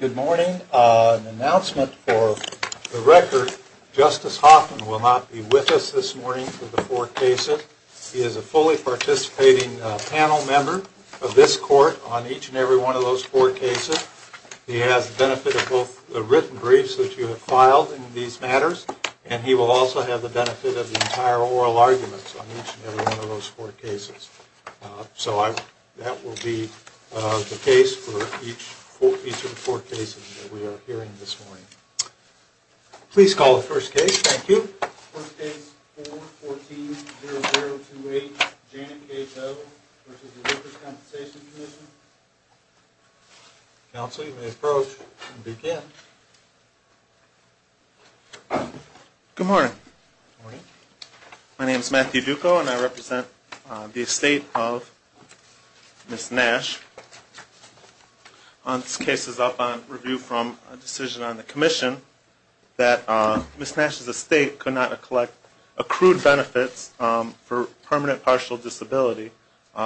Good morning. An announcement for the record. Justice Hoffman will not be with us this morning for the four cases. He is a fully participating panel member of this court on each and every one of those four cases. He has the benefit of both the written briefs that you have filed in these matters and he will also have the benefit of the entire oral arguments on each and every one of those four cases. So that will be the record. I will now present the case for each of the four cases that we are hearing this morning. Please call the first case. Thank you. First case, 414-0028, Janet K. Doe v. Workers' Compensation Commission. Counsel, you may approach and begin. Good morning. My name is Matthew Duco and I represent the estate of Ms. Nash. This case is up on review from a decision on the Commission that Ms. Nash's estate could not collect accrued benefits for permanent partial disability,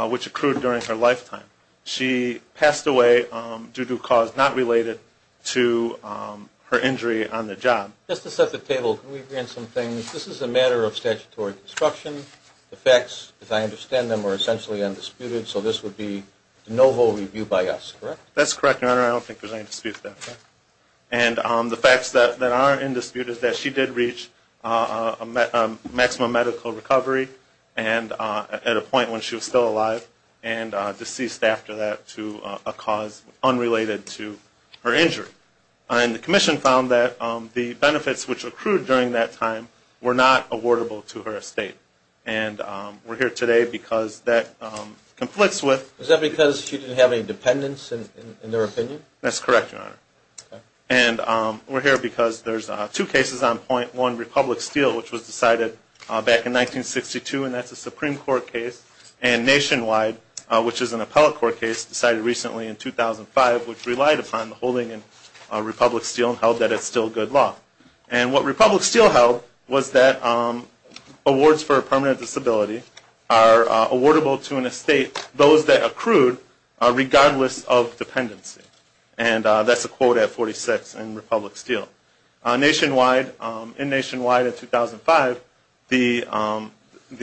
which accrued during her lifetime. She passed away due to cause not related to her injury on the job. Just to set the table, can we agree on some things? This is a matter of statutory construction. The facts, as I understand them, are essentially undisputed, so this would be de novo review by us, correct? That's correct, Your Honor. I don't think there's any dispute there. And the facts that are undisputed is that she did reach maximum medical recovery at a point when she was still alive and deceased after that to a cause unrelated to her injury. And the Commission found that the benefits which accrued during that time were not awardable to her estate. And we're here today because that conflicts with Is that because she didn't have any dependents, in their opinion? That's correct, Your Honor. And we're here because there's two cases on point one, Republic Steel, which was decided back in 1962, and that's a Supreme Court case. And Nationwide, which is an appellate court case, decided recently in 2005, which relied upon the holding in Republic Steel and held that it's still good law. And what Republic Steel held was that awards for a permanent disability are awardable to an estate, those that accrued, regardless of dependency. And that's a quote at 46 in Republic Steel. Nationwide, in Nationwide in 2005, the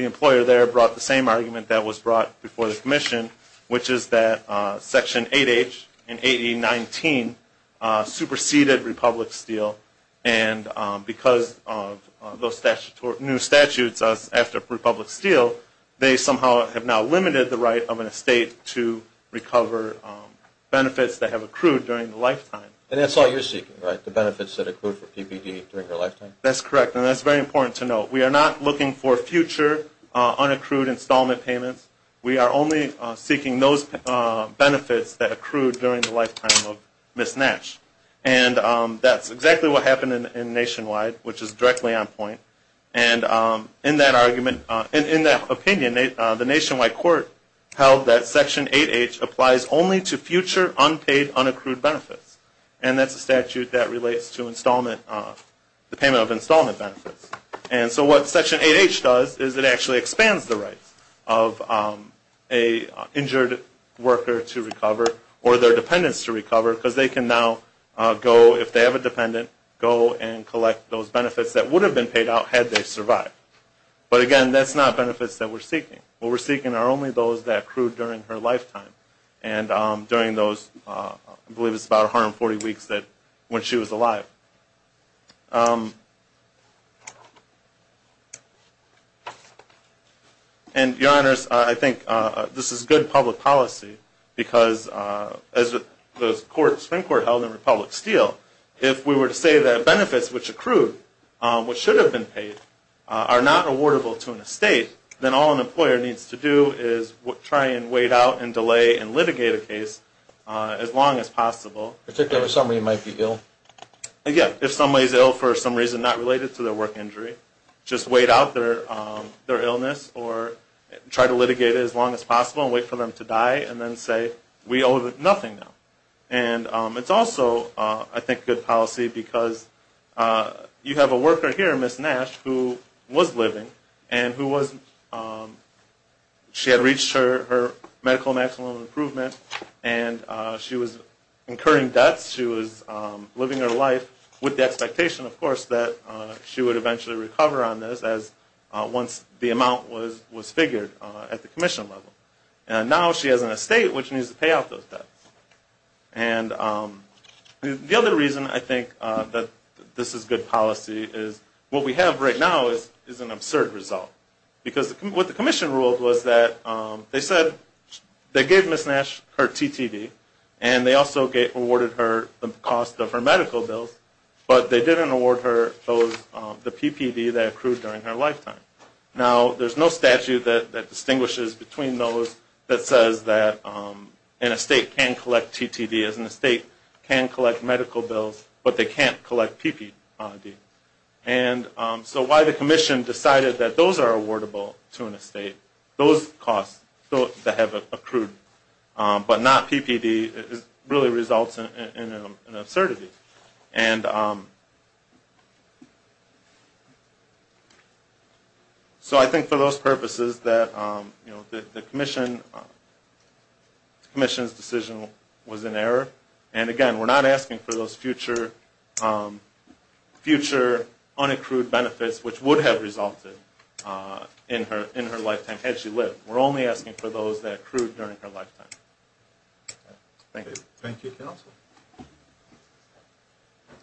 employer there brought the same argument that was brought before the Commission, which is that Section 8H and 8019 superseded Republic Steel. And because of those new statutes after Republic Steel, they somehow have now limited the right of an estate to recover benefits that have accrued during the lifetime. And that's all you're seeking, right? The benefits that accrued for PPD during her lifetime? That's correct. And that's very important to note. We are not looking for future unaccrued installment payments. We are only seeking those benefits that accrued during the lifetime of Ms. Nash. And that's exactly what happened in Nationwide, which is directly on point. And in that argument, in that opinion, the Nationwide court held that Section 8H applies only to future unpaid unaccrued benefits. And that's a statute that relates to installment, the payment of installment benefits. And so what Section 8H does is it actually expands the rights of an injured worker to recover or their dependents to recover because they can now go, if they have a dependent, go and collect those benefits that would have been paid out had they survived. But again, that's not benefits that we're seeking. What we're seeking are only those that accrued during her lifetime. And during those, I believe it's about 140 weeks that, when she was alive. And, Your Honors, I think this is good public policy because, as the Supreme Court held in Republic Steel, if we were to say that benefits which accrued, which should have been paid, are not awardable to an estate, then all an employer needs to do is try and wait out and delay and litigate a case as long as possible. Particularly if somebody might be ill. Again, if somebody is ill for some reason not related to their work injury, just wait out their illness or try to litigate it as long as possible and wait for them to die and then say, we owe nothing now. And it's also, I think, good policy because you have a worker here, Ms. Nash, who was living and she had reached her medical maximum improvement and she was incurring debts. She was living her life with the expectation, of course, that she would eventually recover on this once the amount was figured at the commission level. And now she has an estate which needs to pay off those debts. And the other reason I think that this is good policy is what we have right now is an absurd result. Because what the commission ruled was that they said they gave Ms. Nash her TTD and they also awarded her the cost of her medical bills, but they didn't award her the PPD that accrued during her lifetime. Now, there's no statute that distinguishes between those that says that an estate can collect TTD as an estate can collect medical bills, but they can't collect PPD. And so why the commission decided that those are awardable to an estate, those costs that have accrued, but not PPD, really results in an absurdity. And so I think for those purposes that the commission's decision was in error. And again, we're not asking for those future unaccrued benefits which would have resulted in her lifetime had she lived. We're only asking for those that accrued during her lifetime. Thank you. Thank you, counsel.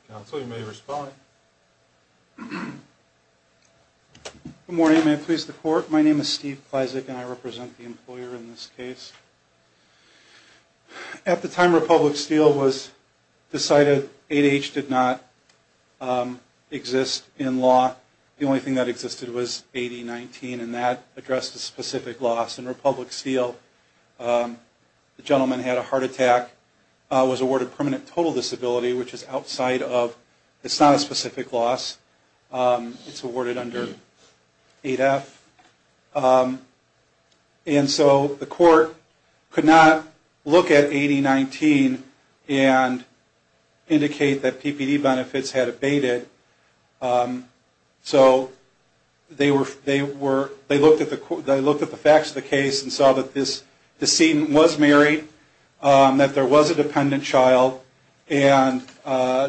Counsel, you may respond. Good morning, may it please the court. My name is Steve Kleizek and I represent the employer in this case. At the time Republic Steel was decided, 8H did not exist in law. The only thing that existed was 8019 and that addressed a specific loss. In Republic Steel, the gentleman had a heart attack, was awarded permanent total disability, which is outside of, it's not a specific loss. It's awarded under 8F. And so the court could not look at 8019 and indicate that PPD benefits had abated. So they looked at the facts of the case and saw that this decedent was married, that there was a dependent child, and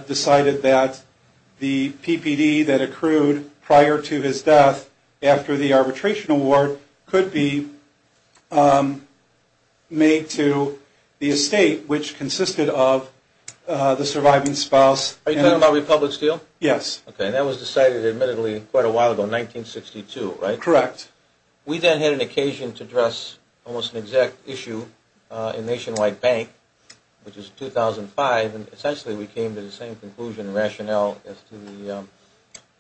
decided that the PPD that accrued prior to his death after the arbitration award could be made to the estate, which consisted of the surviving spouse. Are you talking about Republic Steel? Yes. Okay, and that was decided admittedly quite a while ago, 1962, right? Correct. We then had an occasion to address almost an exact issue in Nationwide Bank, which was 2005, and essentially we came to the same conclusion and rationale as to the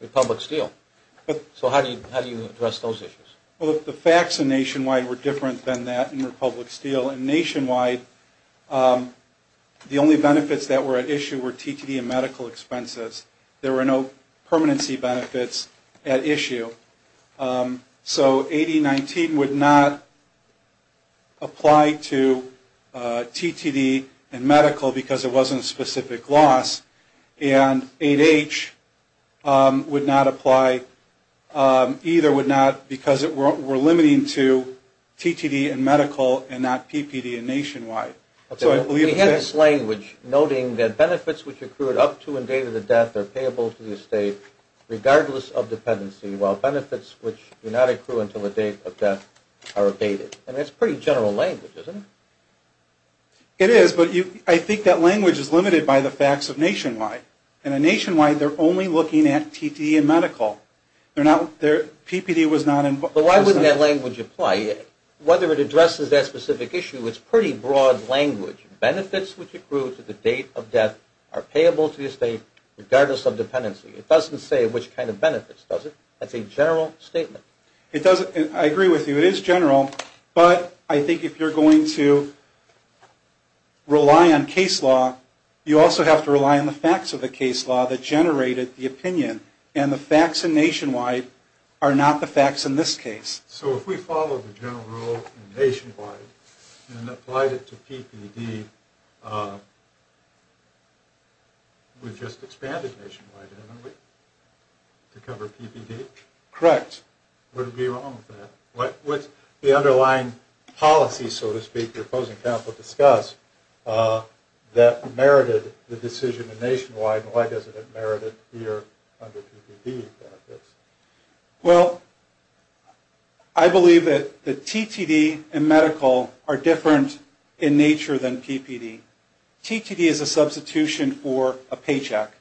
Republic Steel. So how do you address those issues? Well, the facts in Nationwide were different than that in Republic Steel. In Republic Steel and Nationwide, the only benefits that were at issue were TTD and medical expenses. There were no permanency benefits at issue. So 8019 would not apply to TTD and medical because it wasn't a specific loss, and 8H would not apply either because we're limiting to TTD and medical and not PPD and Nationwide. We had this language noting that benefits which accrued up to and date of the death are payable to the estate, regardless of dependency, while benefits which do not accrue until the date of death are abated. And that's pretty general language, isn't it? It is, but I think that language is limited by the facts of Nationwide. In Nationwide, they're only looking at TTD and medical. PPD was not in place. But why wouldn't that language apply? Whether it addresses that specific issue, it's pretty broad language. Benefits which accrue to the date of death are payable to the estate, regardless of dependency. It doesn't say which kind of benefits, does it? That's a general statement. I agree with you. It is general, but I think if you're going to rely on case law, you also have to rely on the facts of the case law that generated the opinion, and the facts in Nationwide are not the facts in this case. So if we follow the general rule in Nationwide and applied it to PPD, we've just expanded Nationwide, haven't we, to cover PPD? Correct. What would be wrong with that? What's the underlying policy, so to speak, your opposing counsel discussed, that merited the decision in Nationwide, and why doesn't it merit it here under PPD? Well, I believe that the TTD and medical are different in nature than PPD. TTD is a substitution for a paycheck.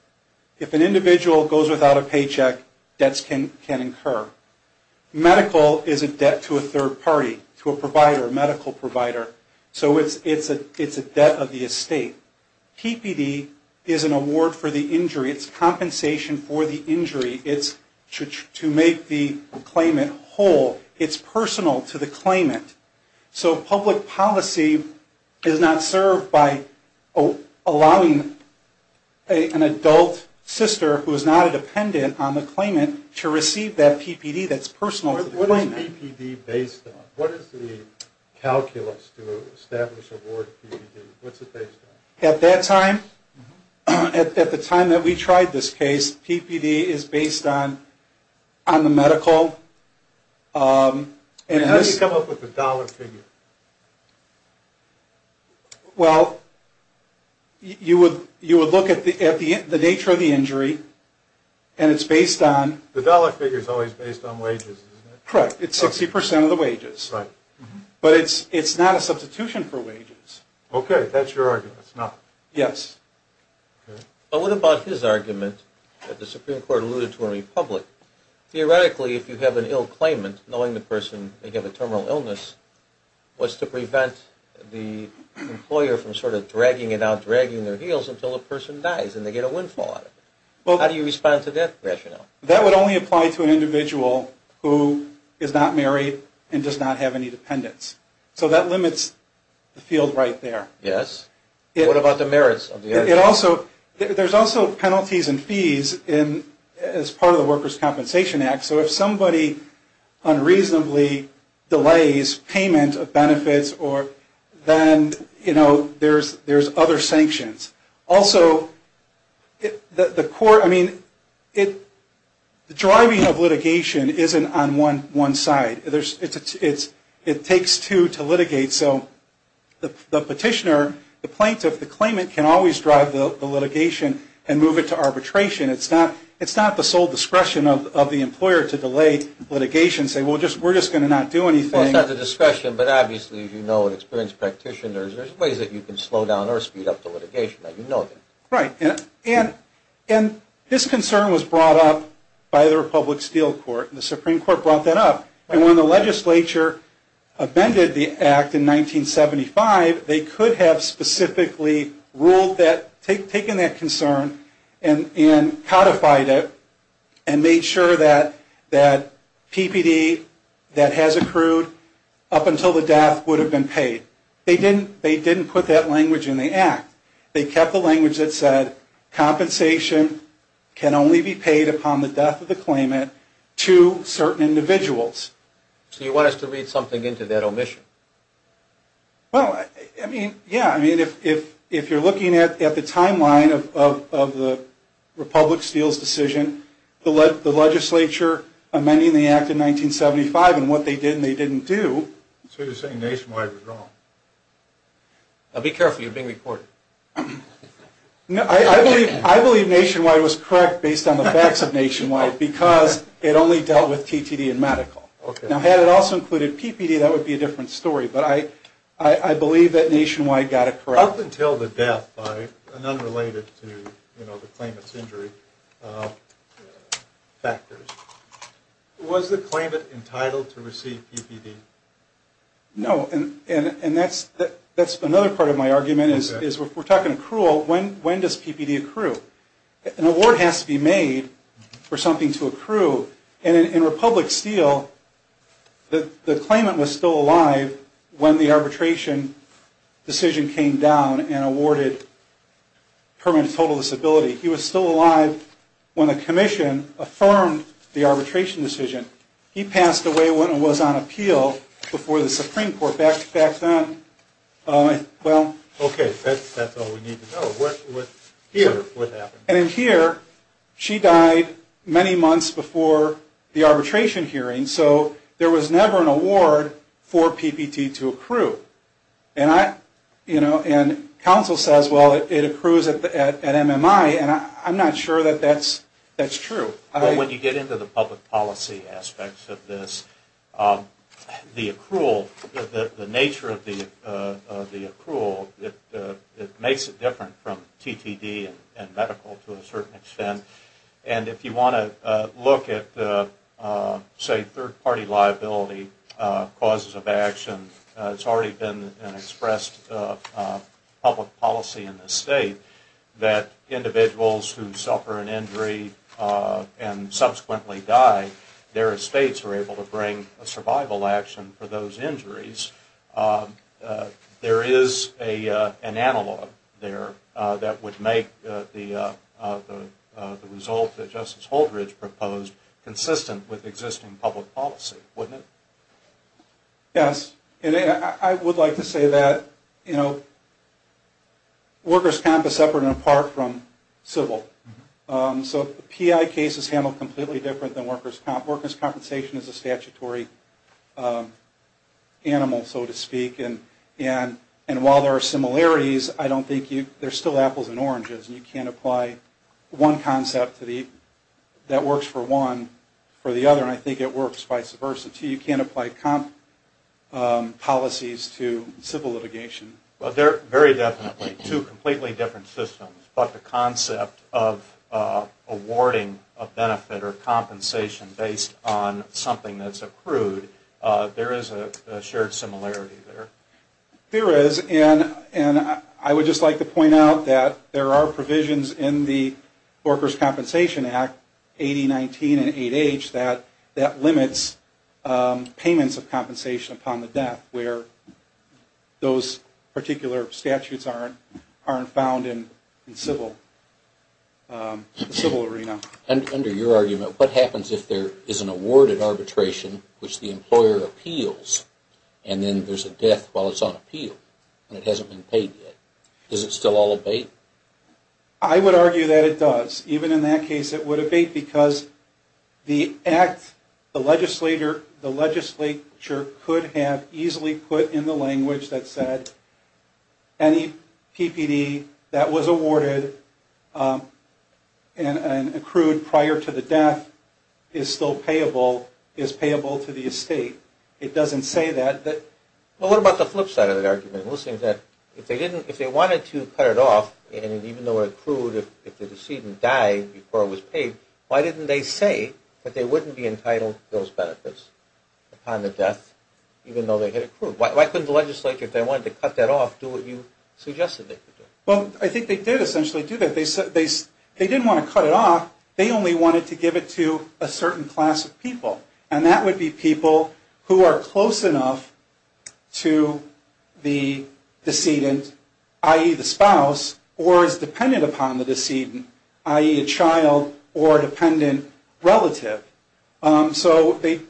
If an individual goes without a paycheck, debts can incur. Medical is a debt to a third party, to a provider, a medical provider. So it's a debt of the estate. PPD is an award for the injury. It's compensation for the injury. It's to make the claimant whole. It's personal to the claimant. So public policy is not served by allowing an adult sister who is not a dependent on the claimant to receive that PPD that's personal to the claimant. What is PPD based on? What is the calculus to establish award PPD? What's it based on? At that time, at the time that we tried this case, PPD is based on the medical. How do you come up with the dollar figure? Well, you would look at the nature of the injury, and it's based on... The dollar figure is always based on wages, isn't it? Correct. It's 60% of the wages. Right. But it's not a substitution for wages. Okay. That's your argument. It's not. Yes. But what about his argument that the Supreme Court alluded to in Republic? Theoretically, if you have an ill claimant, knowing the person may have a terminal illness was to prevent the employer from sort of dragging it out, dragging their heels until the person dies and they get a windfall out of it. How do you respond to that rationale? That would only apply to an individual who is not married and does not have any dependents. So that limits the field right there. Yes. What about the merits? There's also penalties and fees as part of the Workers' Compensation Act. So if somebody unreasonably delays payment of benefits, then there's other sanctions. Also, the driving of litigation isn't on one side. It takes two to litigate. So the petitioner, the plaintiff, the claimant can always drive the litigation and move it to arbitration. It's not the sole discretion of the employer to delay litigation and say, well, we're just going to not do anything. Well, it's not the discretion. But obviously, as you know and experienced practitioners, there's ways that you can slow down or speed up the litigation. You know that. Right. And this concern was brought up by the Republic Steel Court, and the Supreme Court brought that up. And when the legislature amended the act in 1975, they could have specifically ruled that, taken that concern and codified it and made sure that PPD that has accrued up until the death would have been paid. They didn't put that language in the act. They kept the language that said compensation can only be paid upon the So you want us to read something into that omission? Well, I mean, yeah. I mean, if you're looking at the timeline of the Republic Steel's decision, the legislature amending the act in 1975 and what they did and they didn't do. So you're saying Nationwide was wrong. Now, be careful. You're being recorded. No, I believe Nationwide was correct based on the facts of Nationwide because it only dealt with TTD and medical. Now, had it also included PPD, that would be a different story, but I believe that Nationwide got it correct. Up until the death, right, and unrelated to, you know, the claimant's injury factors, was the claimant entitled to receive PPD? No, and that's another part of my argument is if we're talking accrual, when does PPD accrue? An award has to be made for something to accrue, and in Republic Steel the claimant was still alive when the arbitration decision came down and awarded permanent total disability. He was still alive when the commission affirmed the arbitration decision. He passed away when it was on appeal before the Supreme Court back then. Okay, that's all we need to know. And in here, she died many months before the arbitration hearing, so there was never an award for PPD to accrue. And counsel says, well, it accrues at MMI, and I'm not sure that that's true. Well, when you get into the public policy aspects of this, the accrual, the nature of the accrual, it makes it different from TTD and medical to a certain extent. And if you want to look at, say, third-party liability causes of action, it's already been expressed public policy in this state that individuals who for those injuries, there is an analog there that would make the result that Justice Holdridge proposed consistent with existing public policy, wouldn't it? Yes, and I would like to say that, you know, workers' comp is separate and apart from civil. So PI cases handle completely different than workers' comp. Compensation is a statutory animal, so to speak. And while there are similarities, I don't think there's still apples and oranges. You can't apply one concept that works for one for the other, and I think it works vice versa, too. You can't apply comp policies to civil litigation. Well, they're very definitely two completely different systems, but the concept of awarding a benefit or compensation based on something that's accrued, there is a shared similarity there. There is, and I would just like to point out that there are provisions in the Workers' Compensation Act 8019 and 8H that limits payments of compensation upon the debt, where those particular statutes aren't found in civil arena. Under your argument, what happens if there is an awarded arbitration, which the employer appeals, and then there's a death while it's on appeal, and it hasn't been paid yet? Does it still all abate? I would argue that it does. Even in that case, it would abate because the act, the legislature could have easily put in the language that said any PPD that was awarded and accrued prior to the death is still payable, is payable to the estate. It doesn't say that. Well, what about the flip side of that argument? If they wanted to cut it off, and even though it accrued, if the decedent died before it was paid, why didn't they say that they wouldn't be entitled to those benefits upon the death, even though they had accrued? Why couldn't the legislature, if they wanted to cut that off, do what you suggested they could do? Well, I think they did essentially do that. They didn't want to cut it off. They only wanted to give it to a certain class of people, and that would be people who are close enough to the decedent, i.e., the spouse, or is dependent upon the decedent, i.e., a child or a dependent relative. So the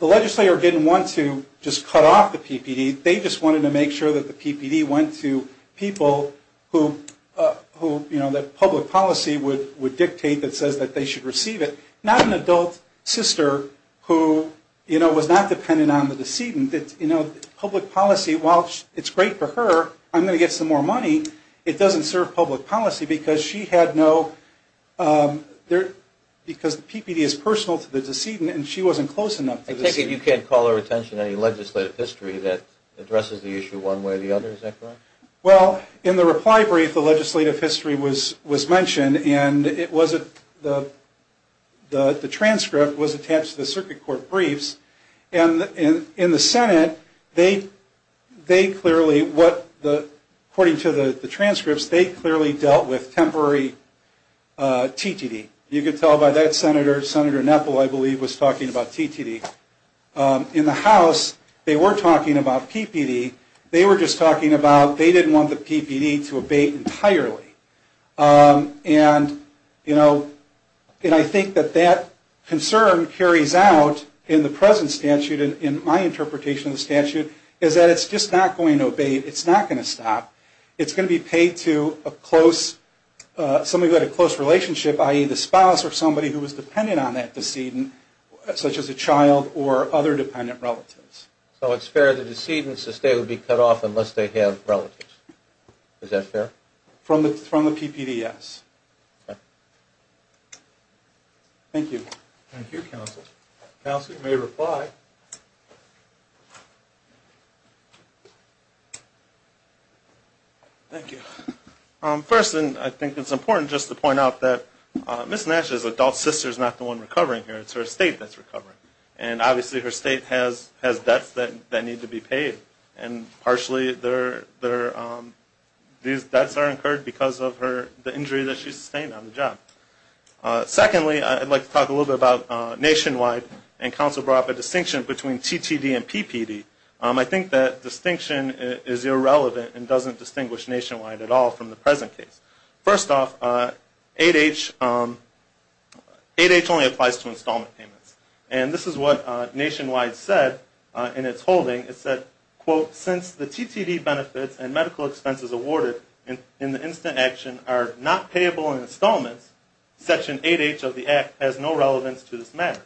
legislature didn't want to just cut off the PPD. They just wanted to make sure that the PPD went to people who, you know, that public policy would dictate that says that they should receive it, not an adult sister who, you know, was not dependent on the decedent. You know, public policy, while it's great for her, I'm going to get some more money, it doesn't serve public policy because she had no, because the PPD is personal to the decedent and she wasn't close enough to the decedent. You can't call her attention to any legislative history that addresses the issue one way or the other, is that correct? Well, in the reply brief, the legislative history was mentioned, and the transcript was attached to the circuit court briefs. And in the Senate, they clearly, according to the transcripts, they clearly dealt with temporary TTD. You could tell by that Senator, Senator Nepple, I believe, was talking about TTD. In the House, they were talking about PPD. They were just talking about they didn't want the PPD to abate entirely. And, you know, and I think that that concern carries out in the present statute and in my interpretation of the statute is that it's just not going to abate. It's not going to stop. It's going to be paid to a close, somebody who had a close relationship, i.e., the spouse or somebody who was dependent on that decedent, such as a child or other dependent relatives. So it's fair to the decedent to stay would be cut off unless they have relatives. Is that fair? From the PPD, yes. Okay. Thank you. Thank you, counsel. Counsel, you may reply. Thank you. First, and I think it's important just to point out that Ms. Nash's adult sister is not the one recovering here. It's her estate that's recovering. And, obviously, her estate has debts that need to be paid, and partially these debts are incurred because of the injury that she sustained on the job. Secondly, I'd like to talk a little bit about Nationwide, and counsel brought up a distinction between TTD and PPD. I think that distinction is irrelevant and doesn't distinguish Nationwide at all from the present case. First off, 8H only applies to installment payments. And this is what Nationwide said in its holding. It said, quote, since the TTD benefits and medical expenses awarded in instant action are not payable in installments, Section 8H of the Act has no relevance to this matter,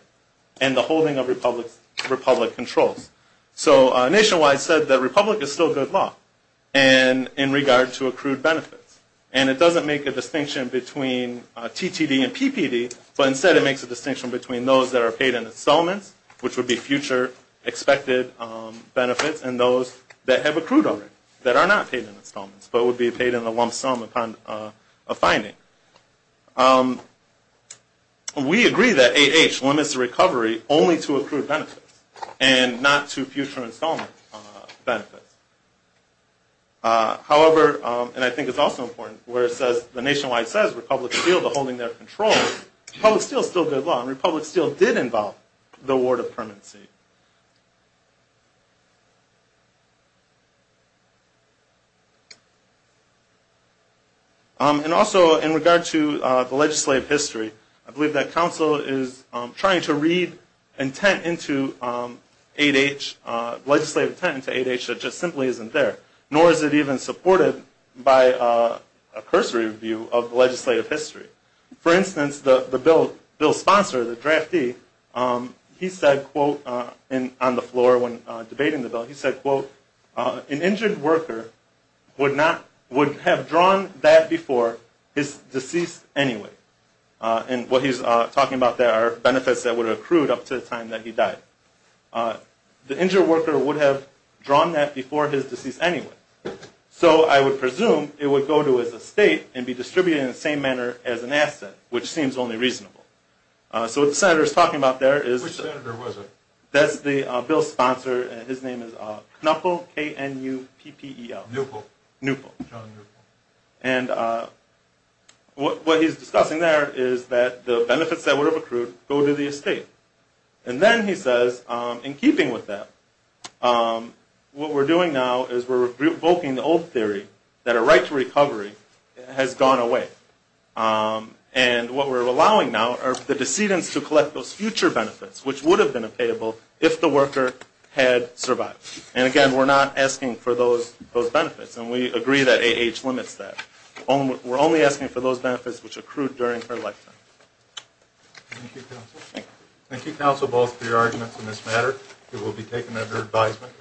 and the holding of Republic controls. So Nationwide said that Republic is still good law in regard to accrued benefits. And it doesn't make a distinction between TTD and PPD, but instead it makes a distinction between those that are paid in installments, which would be future expected benefits, and those that have accrued already that are not paid in installments, but would be paid in the lump sum upon a finding. We agree that 8H limits the recovery only to accrued benefits, and not to future installment benefits. However, and I think it's also important, where it says, the Nationwide says Republic is still holding their control, Republic is still good law, and Republic still did involve the award of permanency. And also in regard to the legislative history, I believe that council is trying to read intent into 8H, legislative intent into 8H that just simply isn't there, nor is it even supported by a cursory view of legislative history. For instance, the bill sponsor, the draftee, he said, quote, on the floor when debating the bill, he said, quote, an injured worker would have drawn that before his deceased anyway. And what he's talking about there are benefits that would have accrued up to the time that he died. The injured worker would have drawn that before his deceased anyway. So I would presume it would go to his estate and be distributed in the same manner as an asset, which seems only reasonable. So what the senator is talking about there is... Which senator was it? That's the bill sponsor, his name is Knuppel, K-N-U-P-P-E-L. Knuppel. Knuppel. John Knuppel. And what he's discussing there is that the benefits that would have accrued go to the estate. And then he says, in keeping with that, what we're doing now is we're revoking the old theory that a right to recovery has gone away. And what we're allowing now are the decedents to collect those future benefits, which would have been payable if the worker had survived. And, again, we're not asking for those benefits. And we agree that AAH limits that. We're only asking for those benefits which accrued during her lifetime. Thank you, counsel. Thank you, counsel, both for your arguments in this matter. It will be taken under advisement.